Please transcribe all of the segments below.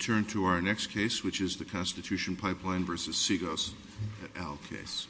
Turn to our next case, which is the Constitution Pipeline v. Seagos et al. case.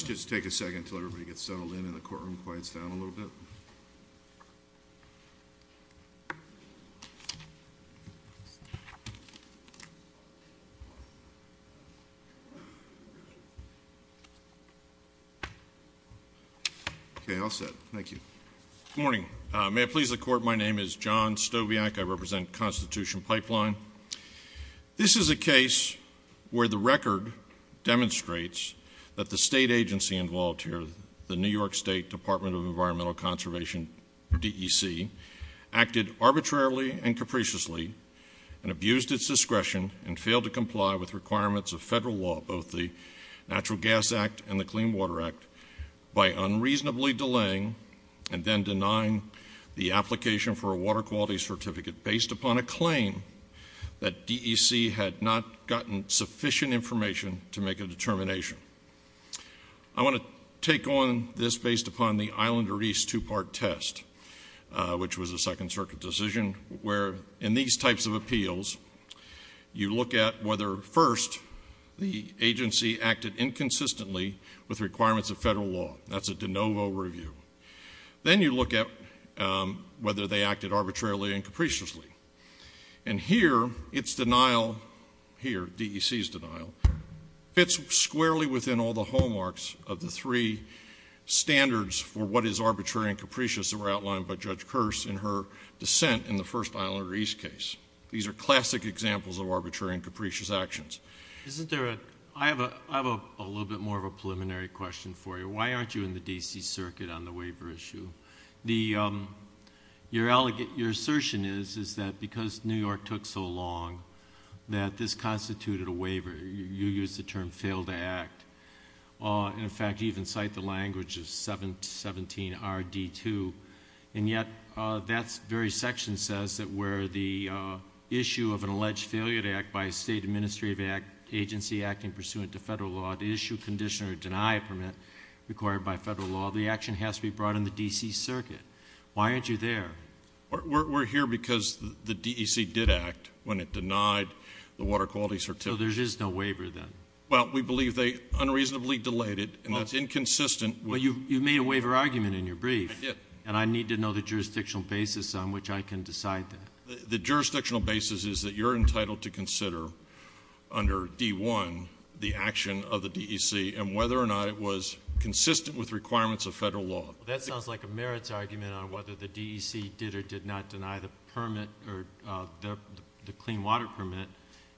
Let's just take a second until everybody gets settled in and the courtroom quiets down a little bit. Okay, all set. Thank you. Good morning. May it please the Court, my name is John Stowiak. I represent Constitution Pipeline. This is a case where the record demonstrates that the state agency involved here, the New York State Department of Environmental Conservation, DEC, acted arbitrarily and capriciously and abused its discretion and failed to comply with requirements of federal law, both the Natural Gas Act and the Clean Water Act, by unreasonably delaying and then denying the application for a water quality certificate based upon a claim that DEC had not gotten sufficient information to make a determination. I want to take on this based upon the Islander East two-part test, which was a Second Circuit decision, where, in these types of appeals, you look at whether, first, the agency acted inconsistently with requirements of federal law. That's a de novo review. Then you look at whether they acted arbitrarily and capriciously. And here, its denial, here, DEC's denial, fits squarely within all the hallmarks of the three standards for what is arbitrary and capricious that were outlined by Judge Kearse in her dissent in the first Islander East case. These are classic examples of arbitrary and capricious actions. I have a little bit more of a preliminary question for you. Why aren't you in the D.C. Circuit on the waiver issue? Your assertion is that because New York took so long, that this constituted a waiver. You use the term failed to act. In fact, you even cite the language of 717RD2. And yet, that very section says that where the issue of an alleged failure to act by a state administrative agency acting pursuant to federal law to issue, condition, or deny a permit required by federal law, the action has to be brought in the D.C. Circuit. Why aren't you there? We're here because the DEC did act when it denied the water quality certificate. So there is no waiver then? Well, we believe they unreasonably delayed it, and that's inconsistent. Well, you made a waiver argument in your brief. I did. And I need to know the jurisdictional basis on which I can decide that. The jurisdictional basis is that you're entitled to consider under D.1 the action of the DEC and whether or not it was consistent with requirements of federal law. That sounds like a merits argument on whether the DEC did or did not deny the permit or the clean water permit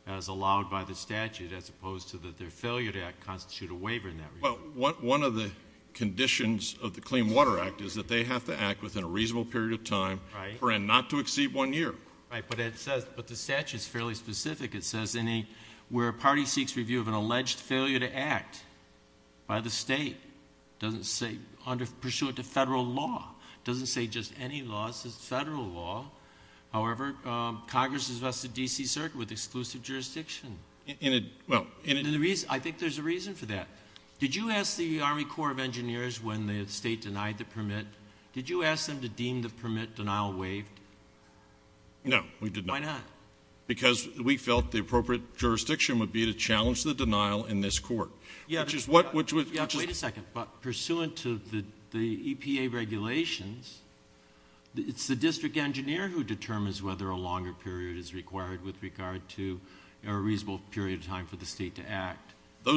as allowed by the statute as opposed to that their failure to act constituted a waiver in that regard. Well, one of the conditions of the Clean Water Act is that they have to act within a reasonable period of time. Right. And not to exceed one year. Right. But the statute is fairly specific. It says where a party seeks review of an alleged failure to act by the state, pursuant to federal law, doesn't say just any law. It says federal law. However, Congress has vested D.C. Circuit with exclusive jurisdiction. I think there's a reason for that. Did you ask the Army Corps of Engineers when the state denied the permit, did you ask them to deem the permit denial waived? No, we did not. Why not? Because we felt the appropriate jurisdiction would be to challenge the denial in this court. Yeah. Wait a second. But pursuant to the EPA regulations, it's the district engineer who determines whether a longer period is required with regard to a reasonable period of time for the state to act.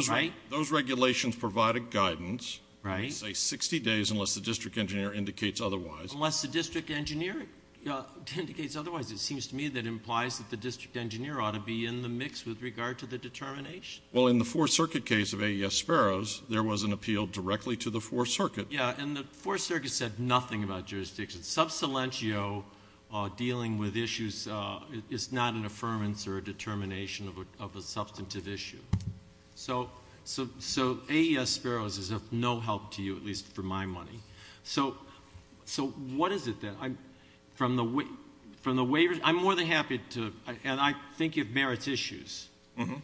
Right. Those regulations provide a guidance. Right. They say 60 days unless the district engineer indicates otherwise. Unless the district engineer indicates otherwise. It seems to me that implies that the district engineer ought to be in the mix with regard to the determination. Well, in the Fourth Circuit case of AES Sparrows, there was an appeal directly to the Fourth Circuit. Yeah, and the Fourth Circuit said nothing about jurisdiction. Subsilentio, dealing with issues, is not an affirmance or a determination of a substantive issue. So AES Sparrows is of no help to you, at least for my money. So what is it then? From the waiver, I'm more than happy to, and I think of merits issues. Okay.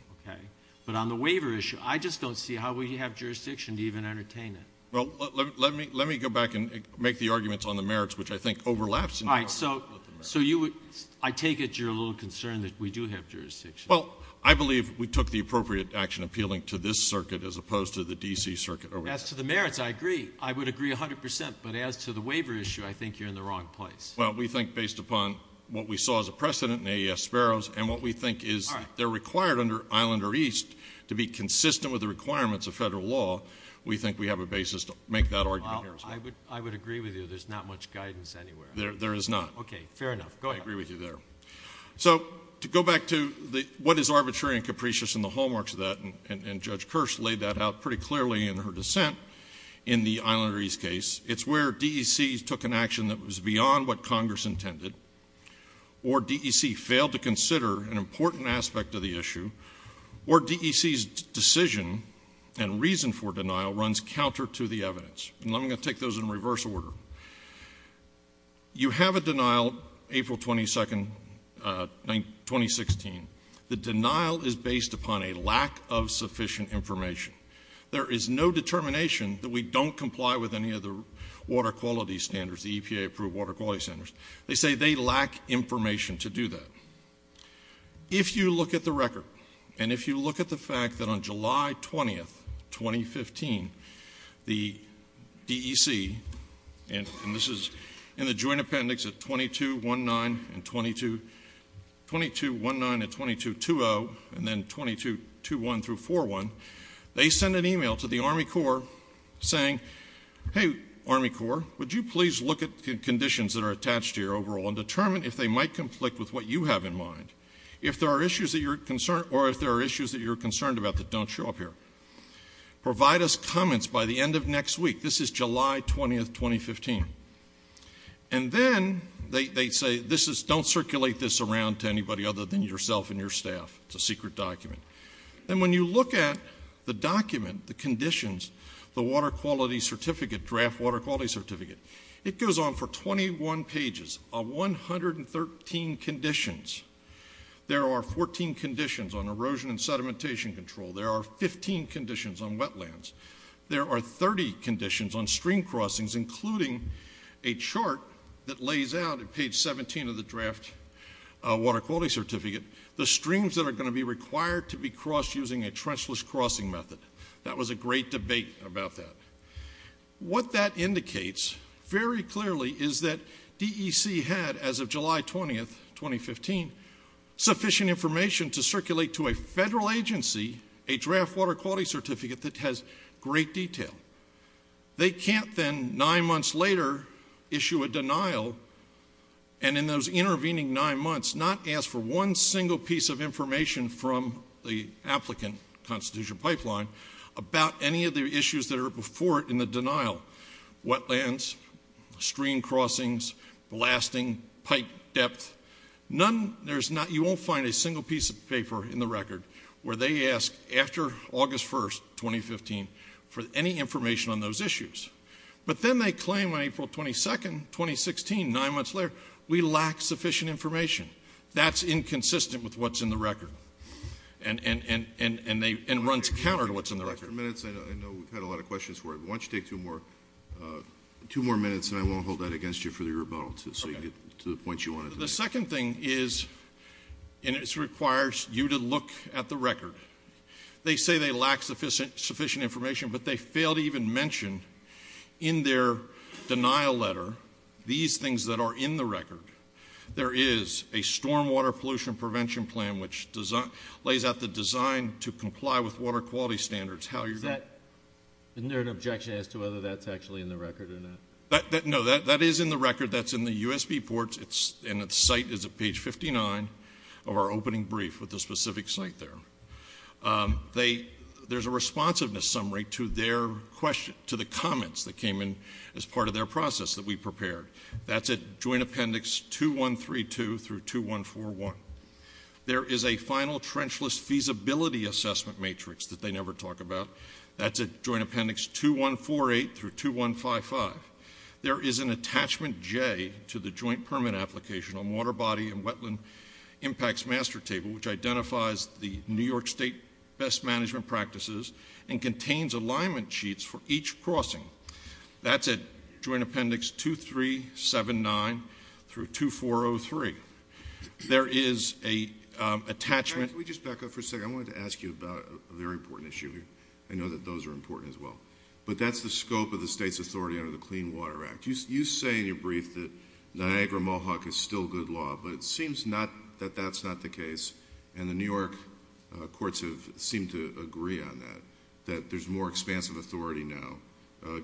But on the waiver issue, I just don't see how we have jurisdiction to even entertain it. Well, let me go back and make the arguments on the merits, which I think overlaps. All right. So I take it you're a little concerned that we do have jurisdiction. Well, I believe we took the appropriate action appealing to this circuit as opposed to the D.C. Circuit. As to the merits, I agree. I would agree 100 percent. But as to the waiver issue, I think you're in the wrong place. Well, we think based upon what we saw as a precedent in AES Sparrows and what we think is they're required under Islander East to be consistent with the requirements of federal law, we think we have a basis to make that argument. Well, I would agree with you. There's not much guidance anywhere. There is not. Okay, fair enough. Go ahead. I agree with you there. So to go back to what is arbitrary and capricious and the hallmarks of that, and Judge Kirsch laid that out pretty clearly in her dissent in the Islander East case, it's where D.E.C. took an action that was beyond what Congress intended or D.E.C. failed to consider an important aspect of the issue or D.E.C.'s decision and reason for denial runs counter to the evidence. And I'm going to take those in reverse order. You have a denial April 22, 2016. The denial is based upon a lack of sufficient information. There is no determination that we don't comply with any of the water quality standards, the EPA-approved water quality standards. They say they lack information to do that. If you look at the record and if you look at the fact that on July 20, 2015, the D.E.C. and this is in the joint appendix at 2219 and 2220 and then 2221 through 4-1, they send an e-mail to the Army Corps saying, hey, Army Corps, would you please look at the conditions that are attached to your overall and determine if they might conflict with what you have in mind, or if there are issues that you're concerned about that don't show up here. Provide us comments by the end of next week. This is July 20, 2015. And then they say don't circulate this around to anybody other than yourself and your staff. It's a secret document. And when you look at the document, the conditions, the water quality certificate, draft water quality certificate, it goes on for 21 pages of 113 conditions. There are 14 conditions on erosion and sedimentation control. There are 15 conditions on wetlands. There are 30 conditions on stream crossings, including a chart that lays out at page 17 of the draft water quality certificate, the streams that are going to be required to be crossed using a trenchless crossing method. That was a great debate about that. What that indicates very clearly is that D.E.C. had, as of July 20, 2015, sufficient information to circulate to a federal agency a draft water quality certificate that has great detail. They can't then, nine months later, issue a denial, and in those intervening nine months not ask for one single piece of information from the applicant, Constitution Pipeline, about any of the issues that are before it in the denial. Wetlands, stream crossings, blasting, pipe depth, none. You won't find a single piece of paper in the record where they ask after August 1, 2015, for any information on those issues. But then they claim on April 22, 2016, nine months later, we lack sufficient information. That's inconsistent with what's in the record and runs counter to what's in the record. I know we've had a lot of questions for it, but why don't you take two more minutes, and I won't hold that against you for the rebuttal so you can get to the points you wanted to make. The second thing is, and this requires you to look at the record. They say they lack sufficient information, but they fail to even mention in their denial letter these things that are in the record. There is a stormwater pollution prevention plan, which lays out the design to comply with water quality standards. Isn't there an objection as to whether that's actually in the record or not? No, that is in the record. That's in the USB ports, and the site is at page 59 of our opening brief with the specific site there. There's a responsiveness summary to their question, to the comments that came in as part of their process that we prepared. That's at Joint Appendix 2132 through 2141. There is a final trenchless feasibility assessment matrix that they never talk about. That's at Joint Appendix 2148 through 2155. There is an attachment J to the joint permit application on water body and wetland impacts master table, which identifies the New York State best management practices and contains alignment sheets for each crossing. That's at Joint Appendix 2379 through 2403. There is an attachment- I know that those are important as well. But that's the scope of the state's authority under the Clean Water Act. You say in your brief that Niagara-Mohawk is still good law, but it seems that that's not the case, and the New York courts have seemed to agree on that, that there's more expansive authority now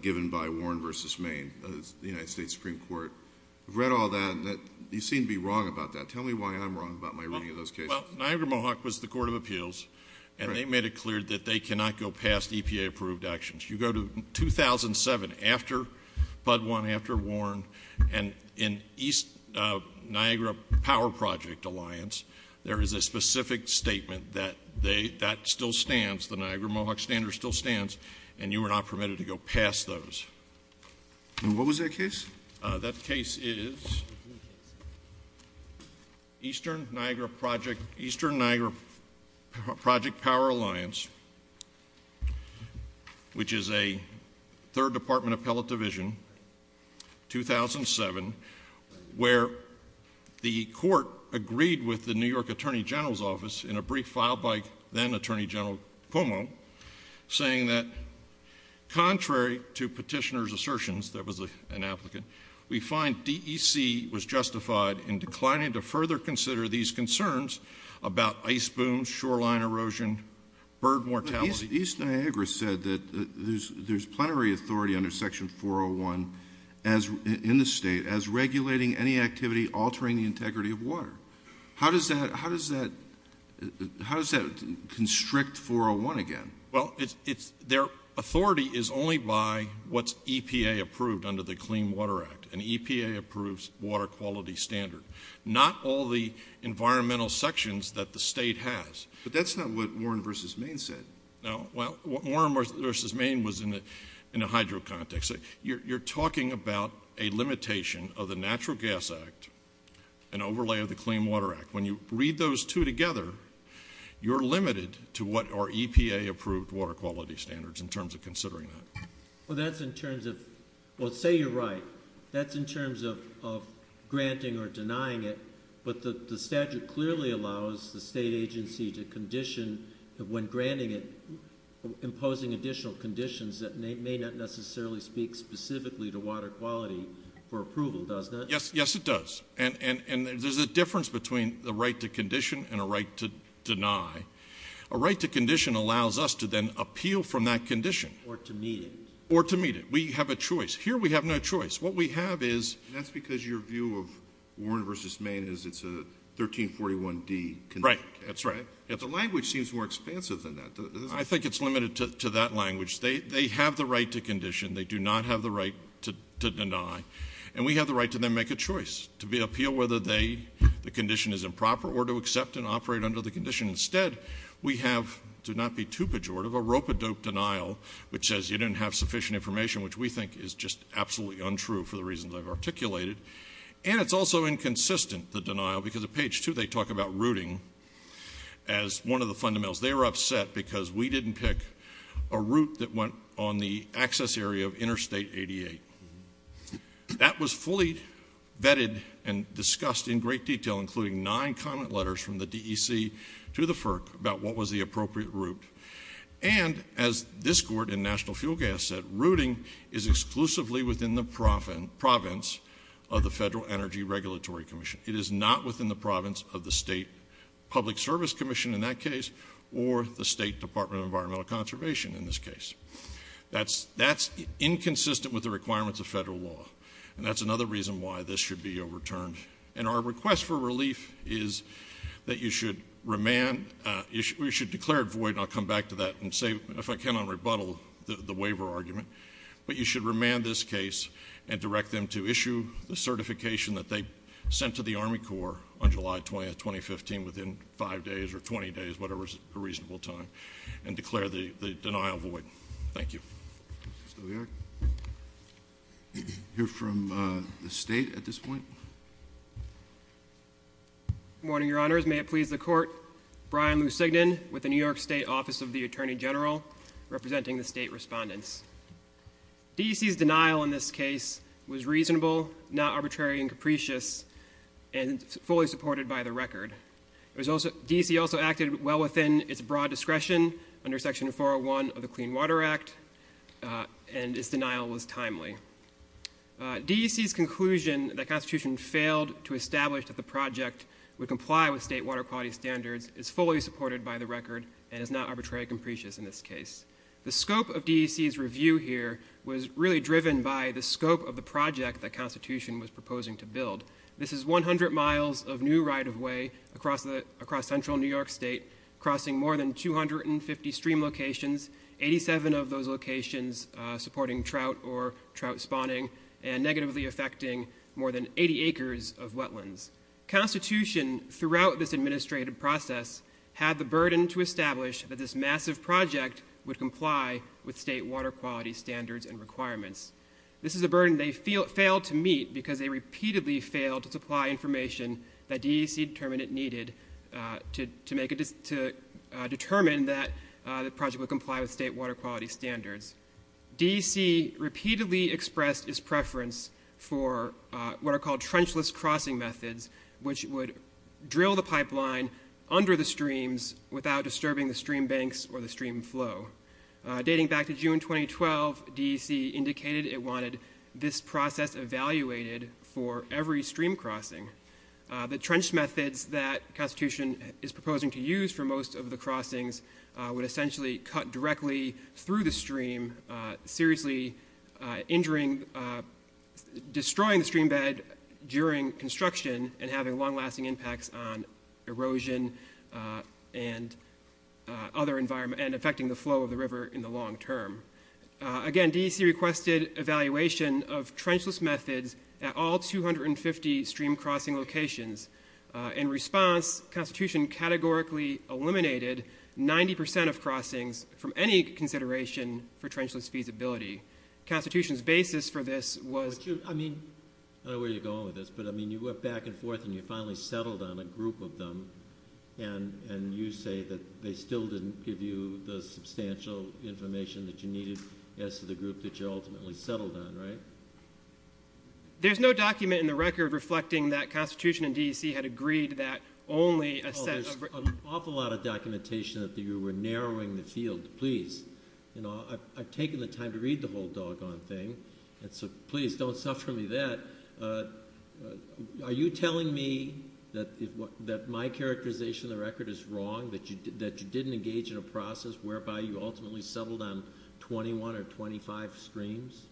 given by Warren v. Maine, the United States Supreme Court. I've read all that, and you seem to be wrong about that. Tell me why I'm wrong about my reading of those cases. Well, Niagara-Mohawk was the court of appeals, and they made it clear that they cannot go past EPA-approved actions. You go to 2007, after Bud One, after Warren, and in East Niagara Power Project Alliance, there is a specific statement that that still stands, the Niagara-Mohawk standard still stands, and you are not permitted to go past those. And what was that case? That case is Eastern Niagara Project Power Alliance, which is a third department appellate division, 2007, where the court agreed with the New York Attorney General's Office in a brief filed by then Attorney General Cuomo, saying that contrary to petitioner's assertions, there was an applicant, we find DEC was justified in declining to further consider these concerns about ice booms, shoreline erosion, bird mortality. But East Niagara said that there's plenary authority under Section 401 in the state as regulating any activity altering the integrity of water. How does that constrict 401 again? Well, their authority is only by what's EPA-approved under the Clean Water Act, an EPA-approved water quality standard, not all the environmental sections that the state has. But that's not what Warren v. Maine said. No, well, Warren v. Maine was in a hydro context. You're talking about a limitation of the Natural Gas Act, an overlay of the Clean Water Act. When you read those two together, you're limited to what are EPA-approved water quality standards in terms of considering that. Well, that's in terms of – well, say you're right. That's in terms of granting or denying it, but the statute clearly allows the state agency to condition, when granting it, imposing additional conditions that may not necessarily speak specifically to water quality for approval, does it? Yes, it does. And there's a difference between the right to condition and a right to deny. A right to condition allows us to then appeal from that condition. Or to meet it. Or to meet it. We have a choice. Here we have no choice. What we have is – That's because your view of Warren v. Maine is it's a 1341D condition. Right, that's right. The language seems more expansive than that. I think it's limited to that language. They have the right to condition. They do not have the right to deny. And we have the right to then make a choice, to appeal whether the condition is improper or to accept and operate under the condition. Instead, we have, to not be too pejorative, a rope-a-dope denial, which says you didn't have sufficient information, which we think is just absolutely untrue for the reasons I've articulated. And it's also inconsistent, the denial, because at page two they talk about routing as one of the fundamentals. They were upset because we didn't pick a route that went on the access area of Interstate 88. That was fully vetted and discussed in great detail, including nine comment letters from the DEC to the FERC about what was the appropriate route. And as this court in National Fuel Gas said, routing is exclusively within the province of the Federal Energy Regulatory Commission. It is not within the province of the State Public Service Commission in that case or the State Department of Environmental Conservation in this case. That's inconsistent with the requirements of federal law. And that's another reason why this should be overturned. And our request for relief is that you should remand, you should declare it void, and I'll come back to that and say, if I can, on rebuttal, the waiver argument. But you should remand this case and direct them to issue the certification that they sent to the Army Corps on July 20, 2015, within five days or 20 days, whatever is a reasonable time, and declare the denial void. Thank you. Mr. Lear? You're from the state at this point? Good morning, your honors. May it please the court. Brian Lusignan with the New York State Office of the Attorney General, representing the state respondents. DEC's denial in this case was reasonable, not arbitrary and capricious, and fully supported by the record. DEC also acted well within its broad discretion under Section 401 of the Clean Water Act, and its denial was timely. DEC's conclusion that Constitution failed to establish that the project would comply with state water quality standards is fully supported by the record and is not arbitrary and capricious in this case. The scope of DEC's review here was really driven by the scope of the project that Constitution was proposing to build. This is 100 miles of new right-of-way across central New York State, crossing more than 250 stream locations, 87 of those locations supporting trout or trout spawning, and negatively affecting more than 80 acres of wetlands. Constitution, throughout this administrative process, had the burden to establish that this massive project would comply with state water quality standards and requirements. This is a burden they failed to meet because they repeatedly failed to supply information that DEC determined it needed to determine that the project would comply with state water quality standards. DEC repeatedly expressed its preference for what are called trenchless crossing methods, which would drill the pipeline under the streams without disturbing the stream banks or the stream flow. Dating back to June 2012, DEC indicated it wanted this process evaluated for every stream crossing. The trench methods that Constitution is proposing to use for most of the crossings would essentially cut directly through the stream, seriously injuring, destroying the stream bed during construction and having long-lasting impacts on erosion and affecting the flow of the river in the long term. Again, DEC requested evaluation of trenchless methods at all 250 stream crossing locations. In response, Constitution categorically eliminated 90% of crossings from any consideration for trenchless feasibility. Constitution's basis for this was... I don't know where you're going with this, but you went back and forth and you finally settled on a group of them and you say that they still didn't give you the substantial information that you needed as to the group that you ultimately settled on, right? There's no document in the record reflecting that Constitution and DEC had agreed that only a set of... Oh, there's an awful lot of documentation that you were narrowing the field. Please, I've taken the time to read the whole doggone thing, so please don't suffer me that. Are you telling me that my characterization of the record is wrong, that you didn't engage in a process whereby you ultimately settled on 21 or 25 streams?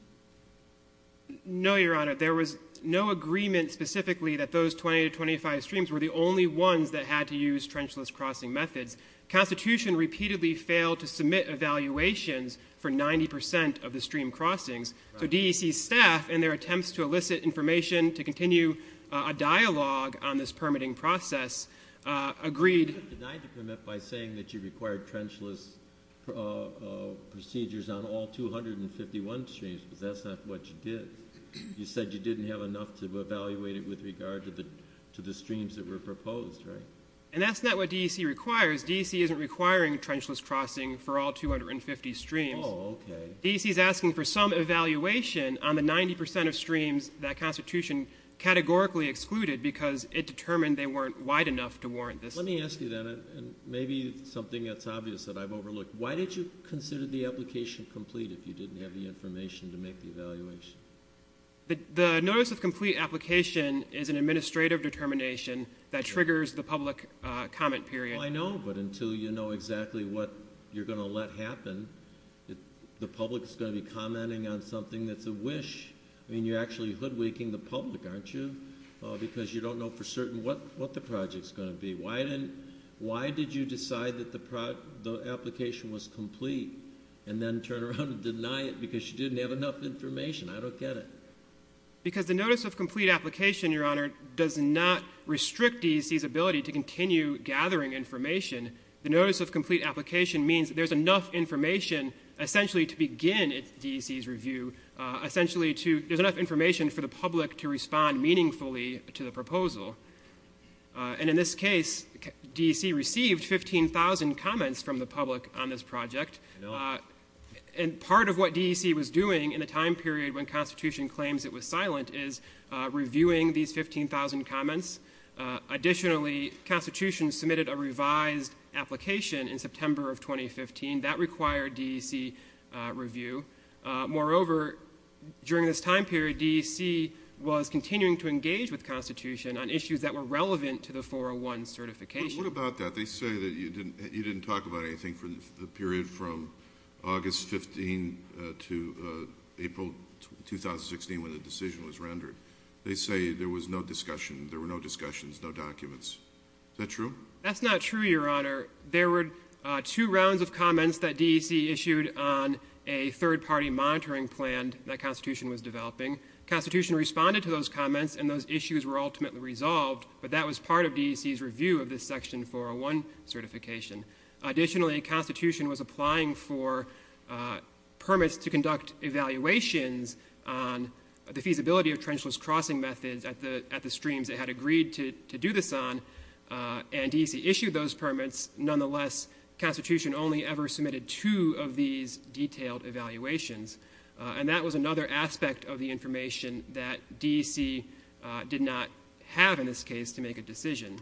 No, Your Honor, there was no agreement specifically that those 20 to 25 streams were the only ones that had to use trenchless crossing methods. Constitution repeatedly failed to submit evaluations for 90% of the stream crossings. So DEC staff, in their attempts to elicit information to continue a dialogue on this permitting process, agreed... You were denied to permit by saying that you required trenchless procedures on all 251 streams, but that's not what you did. You said you didn't have enough to evaluate it with regard to the streams that were proposed, right? And that's not what DEC requires. DEC isn't requiring trenchless crossing for all 250 streams. Oh, okay. DEC's asking for some evaluation on the 90% of streams that Constitution categorically excluded because it determined they weren't wide enough to warrant this. Let me ask you then, and maybe something that's obvious that I've overlooked, why did you consider the application complete if you didn't have the information to make the evaluation? The notice of complete application is an administrative determination that triggers the public comment period. I know, but until you know exactly what you're going to let happen, the public is going to be commenting on something that's a wish. I mean, you're actually hoodwinking the public, aren't you? Because you don't know for certain what the project's going to be. Why did you decide that the application was complete and then turn around and deny it because you didn't have enough information? I don't get it. Because the notice of complete application, Your Honor, does not restrict DEC's ability to continue gathering information. The notice of complete application means there's enough information essentially to begin DEC's review, essentially there's enough information for the public to respond meaningfully to the proposal. And in this case, DEC received 15,000 comments from the public on this project. And part of what DEC was doing in the time period when Constitution claims it was silent is reviewing these 15,000 comments. Additionally, Constitution submitted a revised application in September of 2015 that required DEC review. Moreover, during this time period, DEC was continuing to engage with Constitution on issues that were relevant to the 401 certification. What about that? They say that you didn't talk about anything for the period from August 15 to April 2016 when the decision was rendered. They say there was no discussion, there were no discussions, no documents. Is that true? That's not true, Your Honor. There were two rounds of comments that DEC issued on a third-party monitoring plan that Constitution was developing. Constitution responded to those comments and those issues were ultimately resolved, but that was part of DEC's review of this Section 401 certification. Additionally, Constitution was applying for permits to conduct evaluations on the feasibility of trenchless crossing methods at the streams it had agreed to do this on, and DEC issued those permits. Nonetheless, Constitution only ever submitted two of these detailed evaluations, and that was another aspect of the information that DEC did not have in this case to make a decision.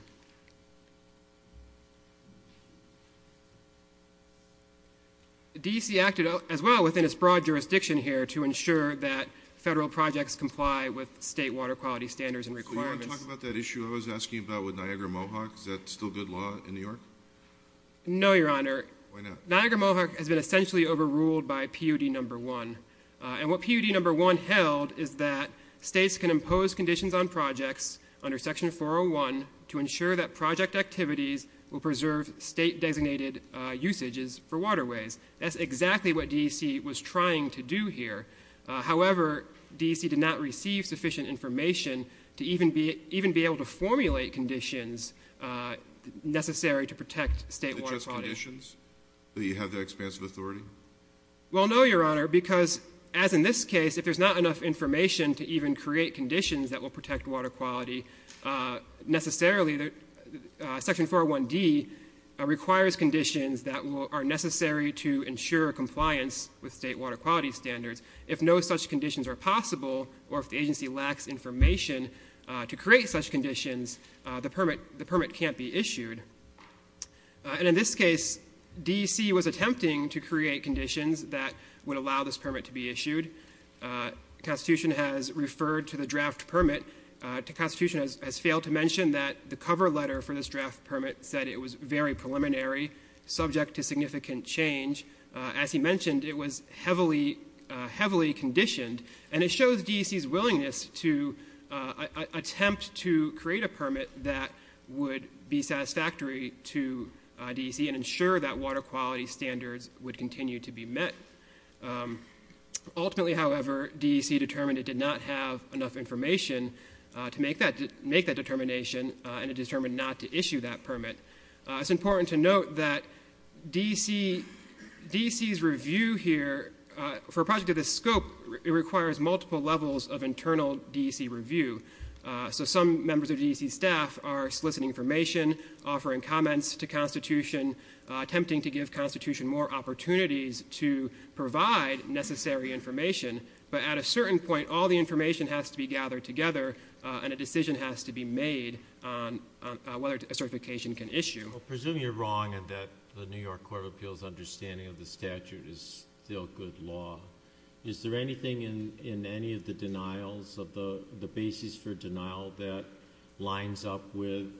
DEC acted as well within its broad jurisdiction here to ensure that federal projects comply with state water quality standards and requirements. So you want to talk about that issue I was asking about with Niagara-Mohawk? Is that still good law in New York? No, Your Honor. Why not? Niagara-Mohawk has been essentially overruled by POD No. 1, and what POD No. 1 held is that states can impose conditions on projects under Section 401 to ensure that project activities will preserve state-designated usages for waterways. That's exactly what DEC was trying to do here. However, DEC did not receive sufficient information to even be able to formulate conditions necessary to protect state water quality. Do you have that expanse of authority? Well, no, Your Honor, because as in this case, if there's not enough information to even create conditions that will protect water quality, necessarily Section 401D requires conditions that are necessary to ensure compliance with state water quality standards. If no such conditions are possible or if the agency lacks information to create such conditions, the permit can't be issued. And in this case, DEC was attempting to create conditions that would allow this permit to be issued. Constitution has referred to the draft permit. Constitution has failed to mention that the cover letter for this draft permit said it was very preliminary, subject to significant change. As he mentioned, it was heavily conditioned, and it shows DEC's willingness to attempt to create a permit that would be satisfactory to DEC and ensure that water quality standards would continue to be met. Ultimately, however, DEC determined it did not have enough information to make that determination, and it determined not to issue that permit. It's important to note that DEC's review here, for a project of this scope, it requires multiple levels of internal DEC review. So some members of DEC staff are soliciting information, offering comments to Constitution, attempting to give Constitution more opportunities to provide necessary information. But at a certain point, all the information has to be gathered together, and a decision has to be made on whether a certification can issue. I presume you're wrong in that the New York Court of Appeals' understanding of the statute is still good law. Is there anything in any of the denials, of the basis for denial, that lines up with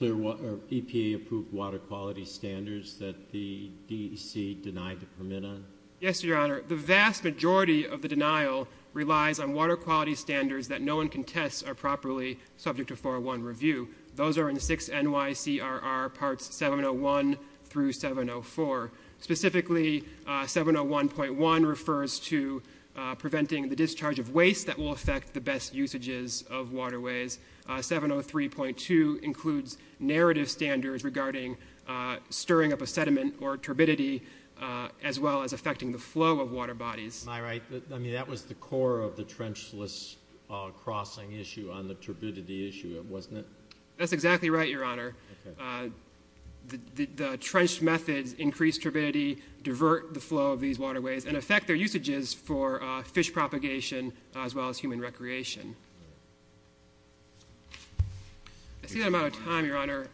EPA-approved water quality standards that the DEC denied the permit on? Yes, Your Honor. The vast majority of the denial relies on water quality standards that no one can test are properly subject to 401 review. Those are in 6 NYCRR parts 701 through 704. Specifically, 701.1 refers to preventing the discharge of waste that will affect the best usages of waterways. 703.2 includes narrative standards regarding stirring up a sediment or turbidity, as well as affecting the flow of water bodies. Am I right? I mean, that was the core of the trenchless crossing issue on the turbidity issue, wasn't it? That's exactly right, Your Honor. The trench methods increase turbidity, divert the flow of these waterways, and affect their usages for fish propagation as well as human recreation. I see that I'm out of time, Your Honor.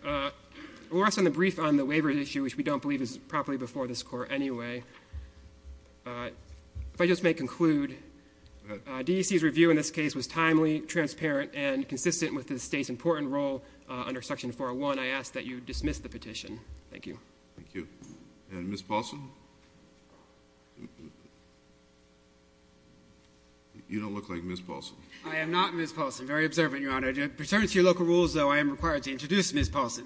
We'll rest on the brief on the waiver issue, which we don't believe is properly before this court anyway. If I just may conclude, DEC's review in this case was timely, transparent, and consistent with the state's important role under Section 401. I ask that you dismiss the petition. Thank you. Thank you. And Ms. Paulson? You don't look like Ms. Paulson. I am not Ms. Paulson. Very observant, Your Honor. To return to your local rules, though, I am required to introduce Ms. Paulson.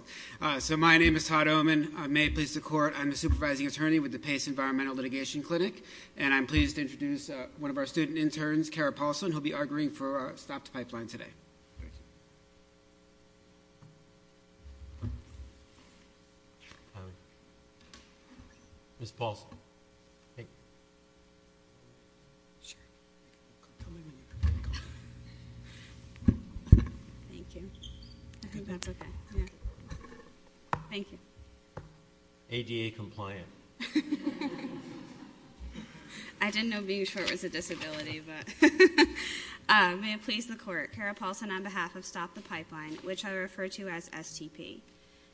So my name is Todd Oman. I may please the court. I'm a supervising attorney with the Pace Environmental Litigation Clinic, and I'm pleased to introduce one of our student interns, Cara Paulson, who will be arguing for a stop to pipeline today. Ms. Paulson? Sure. Thank you. I think that's okay. Thank you. ADA compliant. I didn't know being short was a disability, but may it please the court. Cara Paulson on behalf of Stop the Pipeline, which I refer to as STP.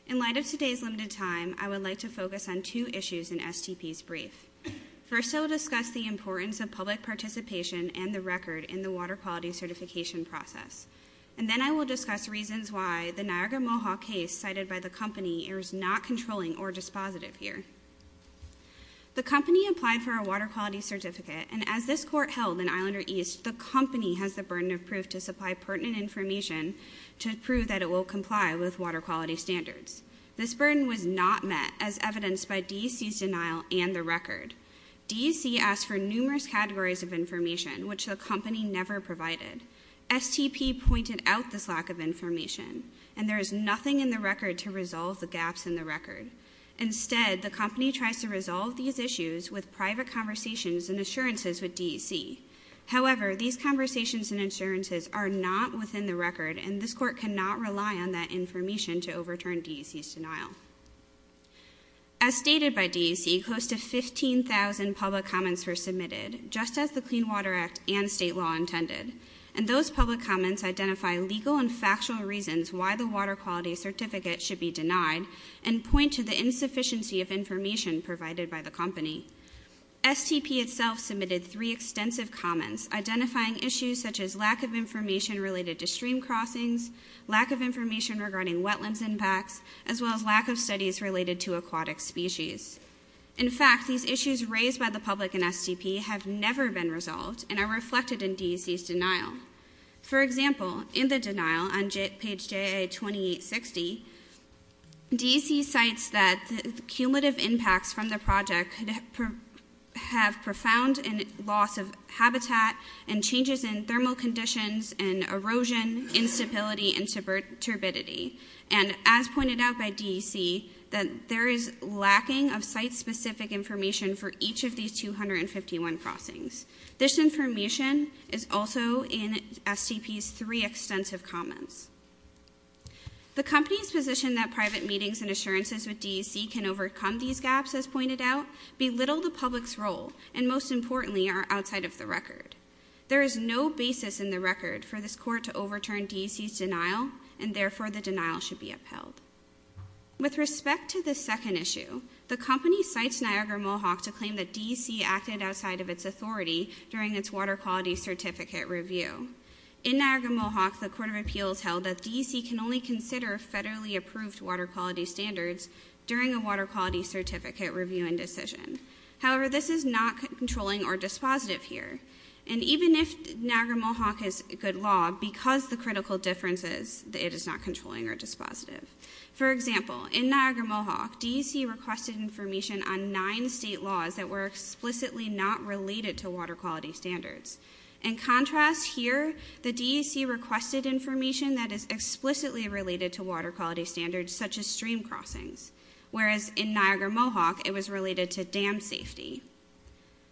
In light of today's limited time, I would like to focus on two issues in STP's brief. First, I will discuss the importance of public participation and the record in the water quality certification process. And then I will discuss reasons why the Niagara Mohawk case cited by the company is not controlling or dispositive here. The company applied for a water quality certificate, and as this court held in Islander East, the company has the burden of proof to supply pertinent information to prove that it will comply with water quality standards. This burden was not met, as evidenced by DEC's denial and the record. DEC asked for numerous categories of information, which the company never provided. STP pointed out this lack of information, and there is nothing in the record to resolve the gaps in the record. Instead, the company tries to resolve these issues with private conversations and assurances with DEC. However, these conversations and assurances are not within the record, and this court cannot rely on that information to overturn DEC's denial. As stated by DEC, close to 15,000 public comments were submitted, just as the Clean Water Act and state law intended. And those public comments identify legal and factual reasons why the water quality certificate should be denied and point to the insufficiency of information provided by the company. STP itself submitted three extensive comments identifying issues such as lack of information related to stream crossings, lack of information regarding wetlands impacts, as well as lack of studies related to aquatic species. In fact, these issues raised by the public and STP have never been resolved and are reflected in DEC's denial. For example, in the denial on page JIA-2860, DEC cites that cumulative impacts from the project have profound loss of habitat and changes in thermal conditions and erosion, instability, and turbidity. And as pointed out by DEC, that there is lacking of site-specific information for each of these 251 crossings. This information is also in STP's three extensive comments. The company's position that private meetings and assurances with DEC can overcome these gaps, as pointed out, belittle the public's role and, most importantly, are outside of the record. There is no basis in the record for this court to overturn DEC's denial and, therefore, the denial should be upheld. With respect to the second issue, the company cites Niagara-Mohawk to claim that DEC acted outside of its authority during its water quality certificate review. In Niagara-Mohawk, the Court of Appeals held that DEC can only consider federally approved water quality standards during a water quality certificate review and decision. However, this is not controlling or dispositive here. And even if Niagara-Mohawk is good law, because of the critical differences, it is not controlling or dispositive. For example, in Niagara-Mohawk, DEC requested information on nine state laws that were explicitly not related to water quality standards. In contrast here, the DEC requested information that is explicitly related to water quality standards, such as stream crossings, whereas in Niagara-Mohawk, it was related to dam safety.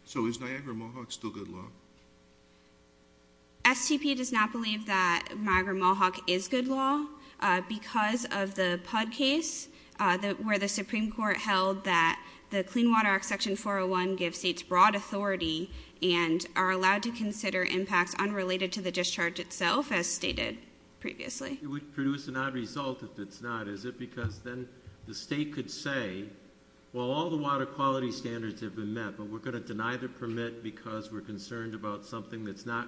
So is Niagara-Mohawk still good law? STP does not believe that Niagara-Mohawk is good law because of the PUD case, where the Supreme Court held that the Clean Water Act Section 401 gives states broad authority and are allowed to consider impacts unrelated to the discharge itself, as stated previously. It would produce an odd result if it's not, is it? Because then the state could say, well, all the water quality standards have been met, but we're going to deny the permit because we're concerned about something that's not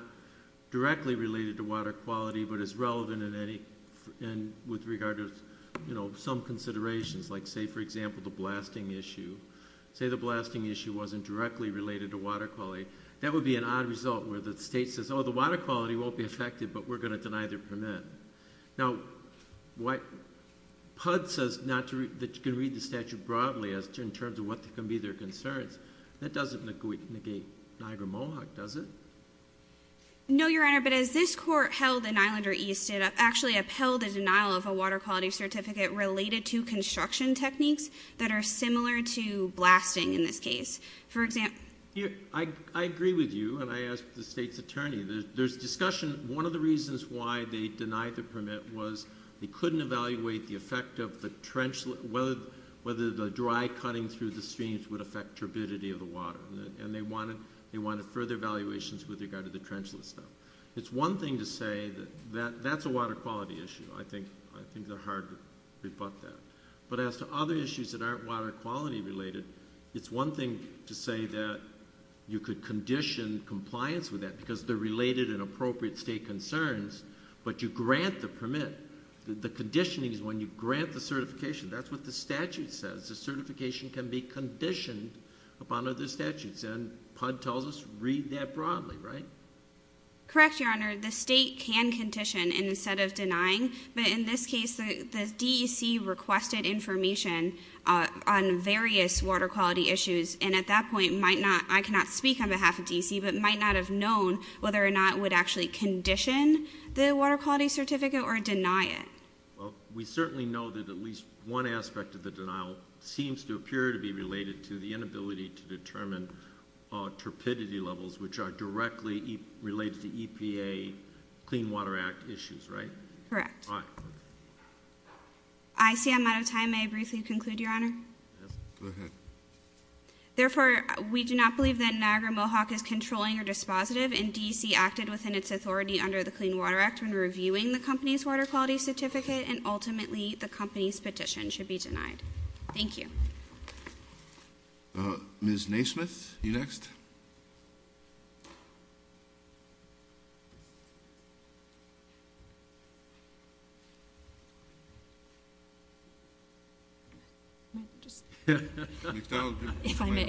directly related to water quality, but is relevant with regard to some considerations, like say, for example, the blasting issue. Say the blasting issue wasn't directly related to water quality. That would be an odd result where the state says, oh, the water quality won't be affected, but we're going to deny their permit. Now, PUD says that you can read the statute broadly in terms of what can be their concerns. That doesn't negate Niagara-Mohawk, does it? No, Your Honor, but as this court held in Islander East, it actually upheld the denial of a water quality certificate related to construction techniques that are similar to blasting in this case. I agree with you, and I ask the state's attorney. There's discussion. One of the reasons why they denied the permit was they couldn't evaluate the effect of the trench, whether the dry cutting through the streams would affect turbidity of the water, and they wanted further evaluations with regard to the trench list stuff. It's one thing to say that that's a water quality issue. I think they're hard to rebut that. But as to other issues that aren't water quality related, it's one thing to say that you could condition compliance with that because they're related and appropriate state concerns, but you grant the permit. The conditioning is when you grant the certification. That's what the statute says. The certification can be conditioned upon other statutes, and PUD tells us read that broadly, right? Correct, Your Honor. The state can condition instead of denying, but in this case, the DEC requested information on various water quality issues, and at that point might not, I cannot speak on behalf of DEC, but might not have known whether or not it would actually condition the water quality certificate or deny it. Well, we certainly know that at least one aspect of the denial seems to appear to be related to the inability to determine turbidity levels, which are directly related to EPA Clean Water Act issues, right? Correct. All right. I see I'm out of time. May I briefly conclude, Your Honor? Yes, go ahead. Therefore, we do not believe that Niagara Mohawk is controlling or dispositive, and DEC acted within its authority under the Clean Water Act when reviewing the company's water quality certificate, and ultimately the company's petition should be denied. Thank you. Ms. Naismith, you next? Ms. Naismith. If I may.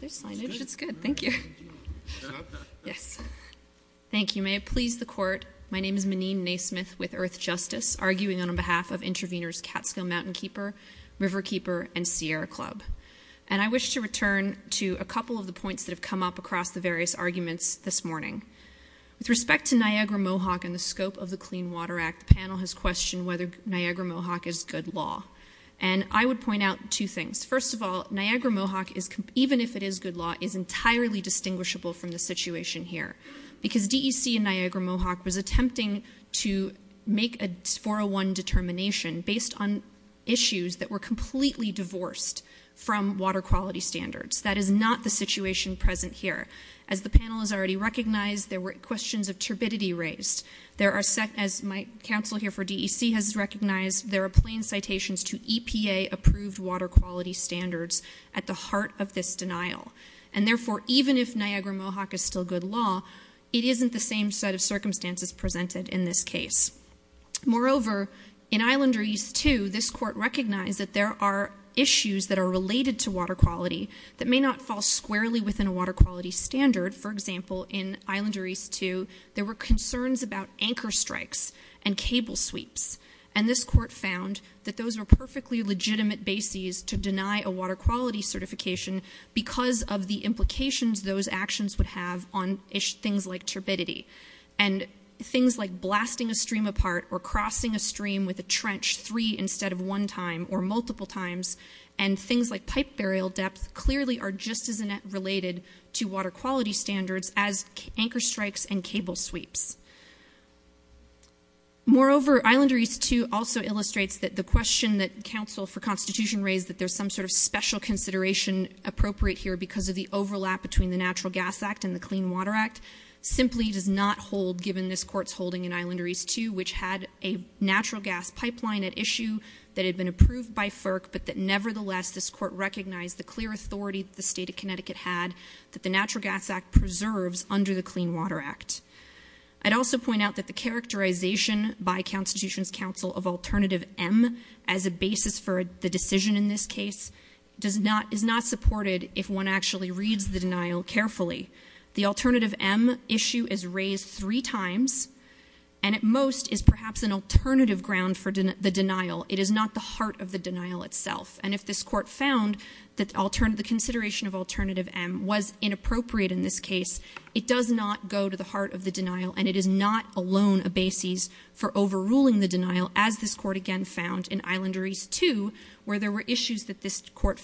There's signage. It's good. Thank you. Yes. Thank you. May it please the Court, my name is Maneen Naismith with Earth Justice, arguing on behalf of intraveners Catskill Mountain Keeper, River Keeper, and Sierra Club. And I wish to return to a couple of the points that have come up across the various arguments this morning. With respect to Niagara Mohawk and the scope of the Clean Water Act, the panel has questioned whether Niagara Mohawk is good law. And I would point out two things. First of all, Niagara Mohawk, even if it is good law, is entirely distinguishable from the situation here because DEC and Niagara Mohawk was attempting to make a 401 determination based on issues that were completely divorced from water quality standards. That is not the situation present here. As the panel has already recognized, there were questions of turbidity raised. As my counsel here for DEC has recognized, there are plain citations to EPA-approved water quality standards at the heart of this denial. And therefore, even if Niagara Mohawk is still good law, it isn't the same set of circumstances presented in this case. Moreover, in Islander East 2, this court recognized that there are issues that are related to water quality that may not fall squarely within a water quality standard. For example, in Islander East 2, there were concerns about anchor strikes and cable sweeps. And this court found that those were perfectly legitimate bases to deny a water quality certification because of the implications those actions would have on things like turbidity. And things like blasting a stream apart or crossing a stream with a trench three instead of one time or multiple times, and things like pipe burial depth, clearly are just as related to water quality standards as anchor strikes and cable sweeps. Moreover, Islander East 2 also illustrates that the question that counsel for Constitution raised, that there's some sort of special consideration appropriate here because of the overlap between the Natural Gas Act and the Clean Water Act, simply does not hold given this court's holding in Islander East 2, which had a natural gas pipeline at issue that had been approved by FERC, but that nevertheless this court recognized the clear authority the state of Connecticut had that the Natural Gas Act preserves under the Clean Water Act. I'd also point out that the characterization by Constitution's counsel of alternative M as a basis for the decision in this case is not supported if one actually reads the denial carefully. The alternative M issue is raised three times and at most is perhaps an alternative ground for the denial. It is not the heart of the denial itself. And if this court found that the consideration of alternative M was inappropriate in this case, it does not go to the heart of the denial and it is not alone a basis for overruling the denial, as this court again found in Islander East 2 where there were issues that this court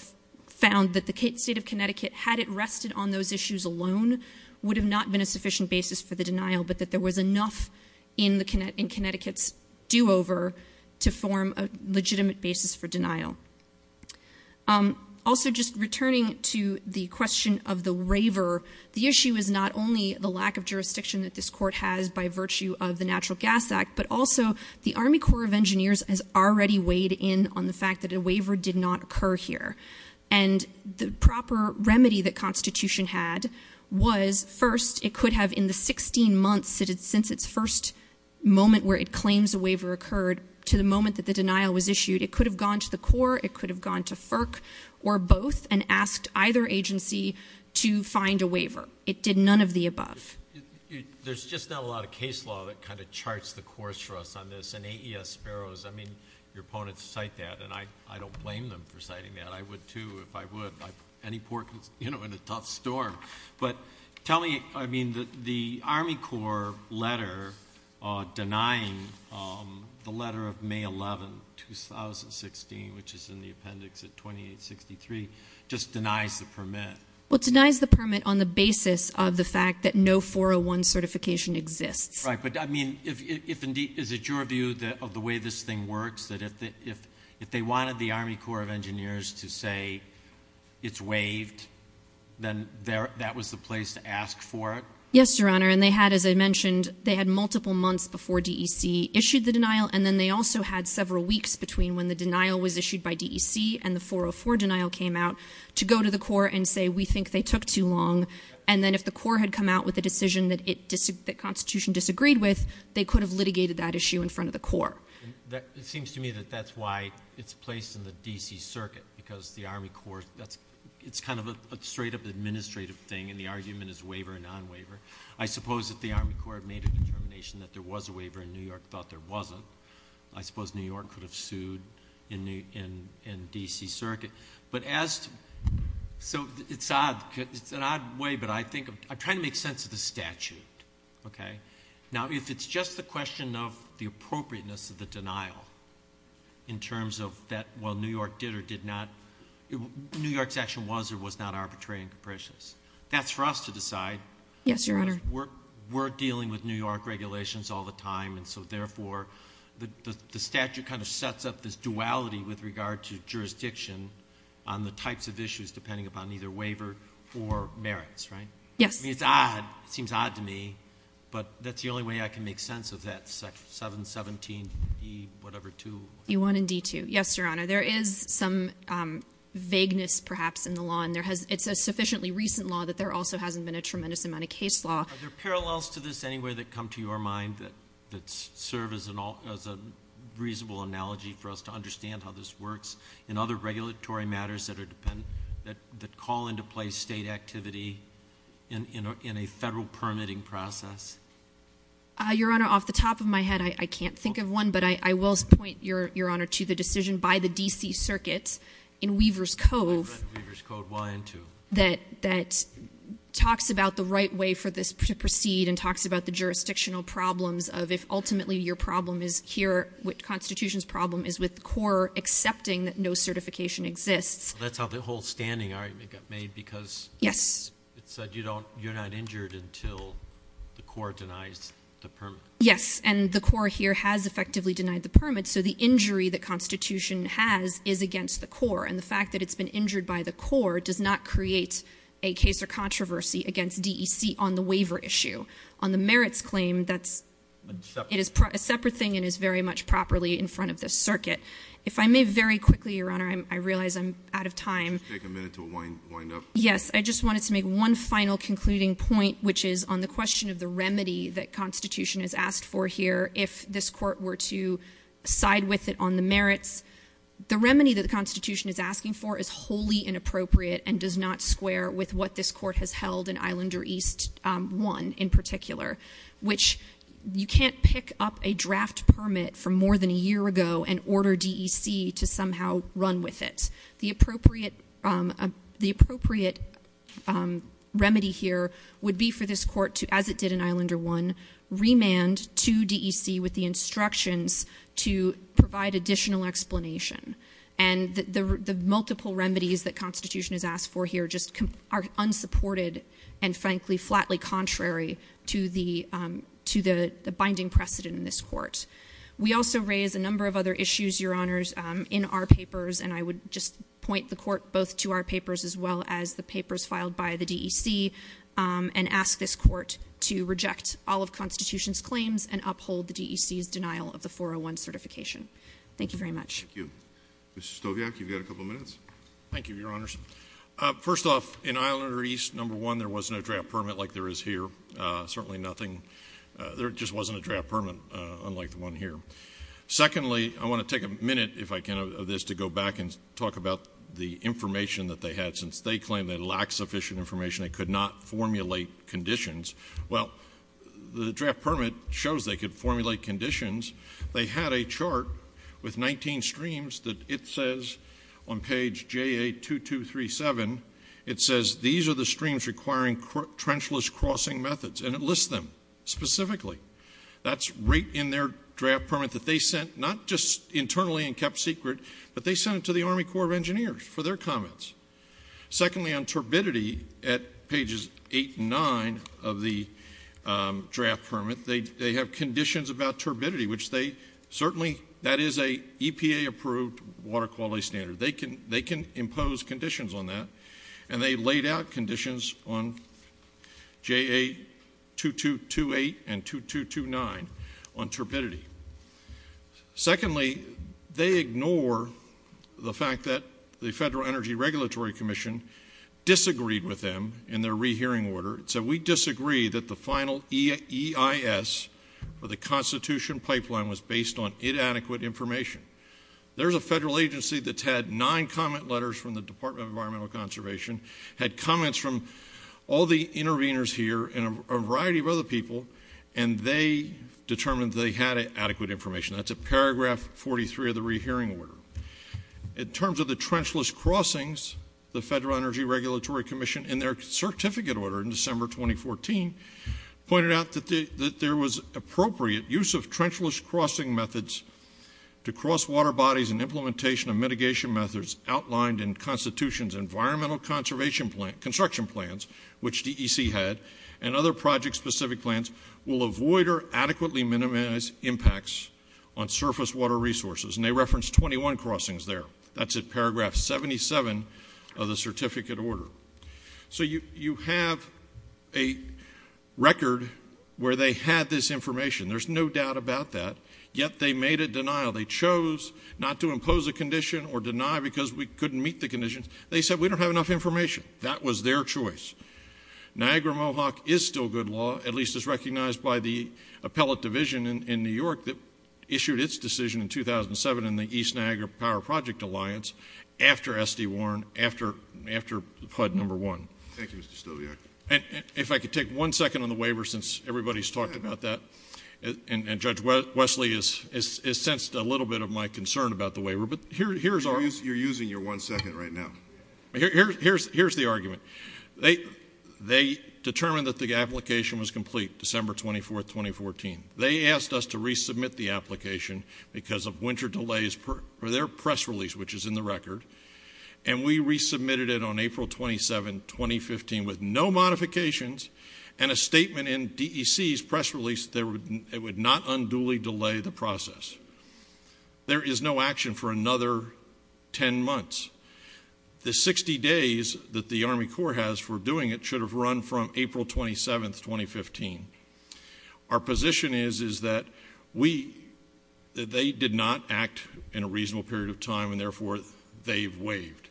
found that the state of Connecticut, had it rested on those issues alone, would have not been a sufficient basis for the denial, but that there was enough in Connecticut's do-over to form a legitimate basis for denial. Also, just returning to the question of the waiver, the issue is not only the lack of jurisdiction that this court has by virtue of the Natural Gas Act, but also the Army Corps of Engineers has already weighed in on the fact that a waiver did not occur here. And the proper remedy that Constitution had was, first, it could have in the 16 months since its first moment where it claims a waiver occurred to the moment that the denial was issued. It could have gone to the Corps. It could have gone to FERC or both and asked either agency to find a waiver. It did none of the above. There's just not a lot of case law that kind of charts the course for us on this. And AES Sparrows, I mean, your opponents cite that, and I don't blame them for citing that. I would, too, if I would. Any court, you know, in a tough storm. But tell me, I mean, the Army Corps letter denying the letter of May 11, 2016, which is in the appendix at 2863, just denies the permit. Well, it denies the permit on the basis of the fact that no 401 certification exists. Right, but, I mean, is it your view of the way this thing works, that if they wanted the Army Corps of Engineers to say it's waived, then that was the place to ask for it? Yes, Your Honor, and they had, as I mentioned, they had multiple months before DEC issued the denial, and then they also had several weeks between when the denial was issued by DEC and the 404 denial came out to go to the Corps and say we think they took too long, and then if the Corps had come out with a decision that the Constitution disagreed with, they could have litigated that issue in front of the Corps. It seems to me that that's why it's placed in the D.C. Circuit, because the Army Corps, it's kind of a straight-up administrative thing, and the argument is waiver or non-waiver. I suppose if the Army Corps had made a determination that there was a waiver, and New York thought there wasn't, I suppose New York could have sued in D.C. Circuit. So it's an odd way, but I'm trying to make sense of the statute. Now, if it's just the question of the appropriateness of the denial in terms of that New York did or did not, New York's action was or was not arbitrary and capricious, that's for us to decide. Yes, Your Honor. We're dealing with New York regulations all the time, and so therefore the statute kind of sets up this duality with regard to jurisdiction on the types of issues, depending upon either waiver or merits, right? Yes. I mean, it's odd. It seems odd to me, but that's the only way I can make sense of that 717E2. E1 and D2. Yes, Your Honor. There is some vagueness, perhaps, in the law, and it's a sufficiently recent law that there also hasn't been a tremendous amount of case law. Are there parallels to this anywhere that come to your mind that serve as a reasonable analogy for us to understand how this works in other regulatory matters that call into place state activity in a federal permitting process? Your Honor, off the top of my head, I can't think of one, but I will point, Your Honor, to the decision by the D.C. Circuit in Weaver's Cove that talks about the right way for this to proceed and talks about the jurisdictional problems of if ultimately your problem is here, which Constitution's problem is with CORE accepting that no certification exists. That's how the whole standing argument got made because it said you're not injured until the CORE denies the permit. Yes, and the CORE here has effectively denied the permit, so the injury that Constitution has is against the CORE, and the fact that it's been injured by the CORE does not create a case or controversy against D.E.C. on the waiver issue. On the merits claim, that's a separate thing and is very much properly in front of this circuit. If I may very quickly, Your Honor, I realize I'm out of time. Just take a minute to wind up. Yes, I just wanted to make one final concluding point, which is on the question of the remedy that Constitution has asked for here if this court were to side with it on the merits. The remedy that the Constitution is asking for is wholly inappropriate and does not square with what this court has held in Islander East 1 in particular, which you can't pick up a draft permit from more than a year ago and order D.E.C. to somehow run with it. The appropriate remedy here would be for this court to, as it did in Islander 1, remand to D.E.C. with the instructions to provide additional explanation, and the multiple remedies that Constitution has asked for here just are unsupported and frankly flatly contrary to the binding precedent in this court. We also raise a number of other issues, Your Honors, in our papers, and I would just point the court both to our papers as well as the papers filed by the D.E.C. and ask this court to reject all of Constitution's claims and uphold the D.E.C.'s denial of the 401 certification. Thank you very much. Thank you. Mr. Stoviak, you've got a couple of minutes. Thank you, Your Honors. First off, in Islander East, number one, there was no draft permit like there is here, certainly nothing. There just wasn't a draft permit unlike the one here. Secondly, I want to take a minute, if I can, of this to go back and talk about the information that they had. They had information they could not formulate conditions. Well, the draft permit shows they could formulate conditions. They had a chart with 19 streams that it says on page JA-2237, it says these are the streams requiring trenchless crossing methods, and it lists them specifically. That's right in their draft permit that they sent not just internally and kept secret, but they sent it to the Army Corps of Engineers for their comments. Secondly, on turbidity, at pages 8 and 9 of the draft permit, they have conditions about turbidity, which they certainly, that is an EPA-approved water quality standard. They can impose conditions on that, and they laid out conditions on JA-2228 and 2229 on turbidity. Secondly, they ignore the fact that the Federal Energy Regulatory Commission disagreed with them in their rehearing order. It said, we disagree that the final EIS for the Constitution pipeline was based on inadequate information. There's a federal agency that's had nine comment letters from the Department of Environmental Conservation, had comments from all the interveners here and a variety of other people, and they determined they had adequate information. That's at paragraph 43 of the rehearing order. In terms of the trenchless crossings, the Federal Energy Regulatory Commission, in their certificate order in December 2014, pointed out that there was appropriate use of trenchless crossing methods to cross water bodies and implementation of mitigation methods outlined in Constitution's Environmental Construction Plans, which DEC had, and other project-specific plans will avoid or adequately minimize impacts on surface water resources. And they referenced 21 crossings there. That's at paragraph 77 of the certificate order. So you have a record where they had this information. There's no doubt about that, yet they made a denial. They chose not to impose a condition or deny because we couldn't meet the conditions. They said, we don't have enough information. That was their choice. Niagara-Mohawk is still good law, at least as recognized by the appellate division in New York that issued its decision in 2007 in the East Niagara Power Project Alliance after S.D. Warren, after HUD No. 1. Thank you, Mr. Stobiak. If I could take one second on the waiver since everybody's talked about that, and Judge Wesley has sensed a little bit of my concern about the waiver. You're using your one second right now. Here's the argument. They determined that the application was complete, December 24, 2014. They asked us to resubmit the application because of winter delays for their press release, which is in the record, and we resubmitted it on April 27, 2015 with no modifications and a statement in DEC's press release that it would not unduly delay the process. There is no action for another 10 months. The 60 days that the Army Corps has for doing it should have run from April 27, 2015. Our position is that they did not act in a reasonable period of time, and therefore they've waived.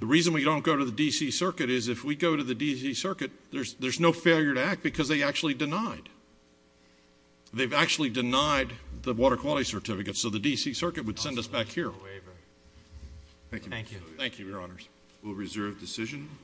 The reason we don't go to the D.C. Circuit is if we go to the D.C. Circuit, there's no failure to act because they actually denied. They've actually denied the Water Quality Certificate, so the D.C. Circuit would send us back here. Thank you. Thank you, Your Honors. We'll reserve decision.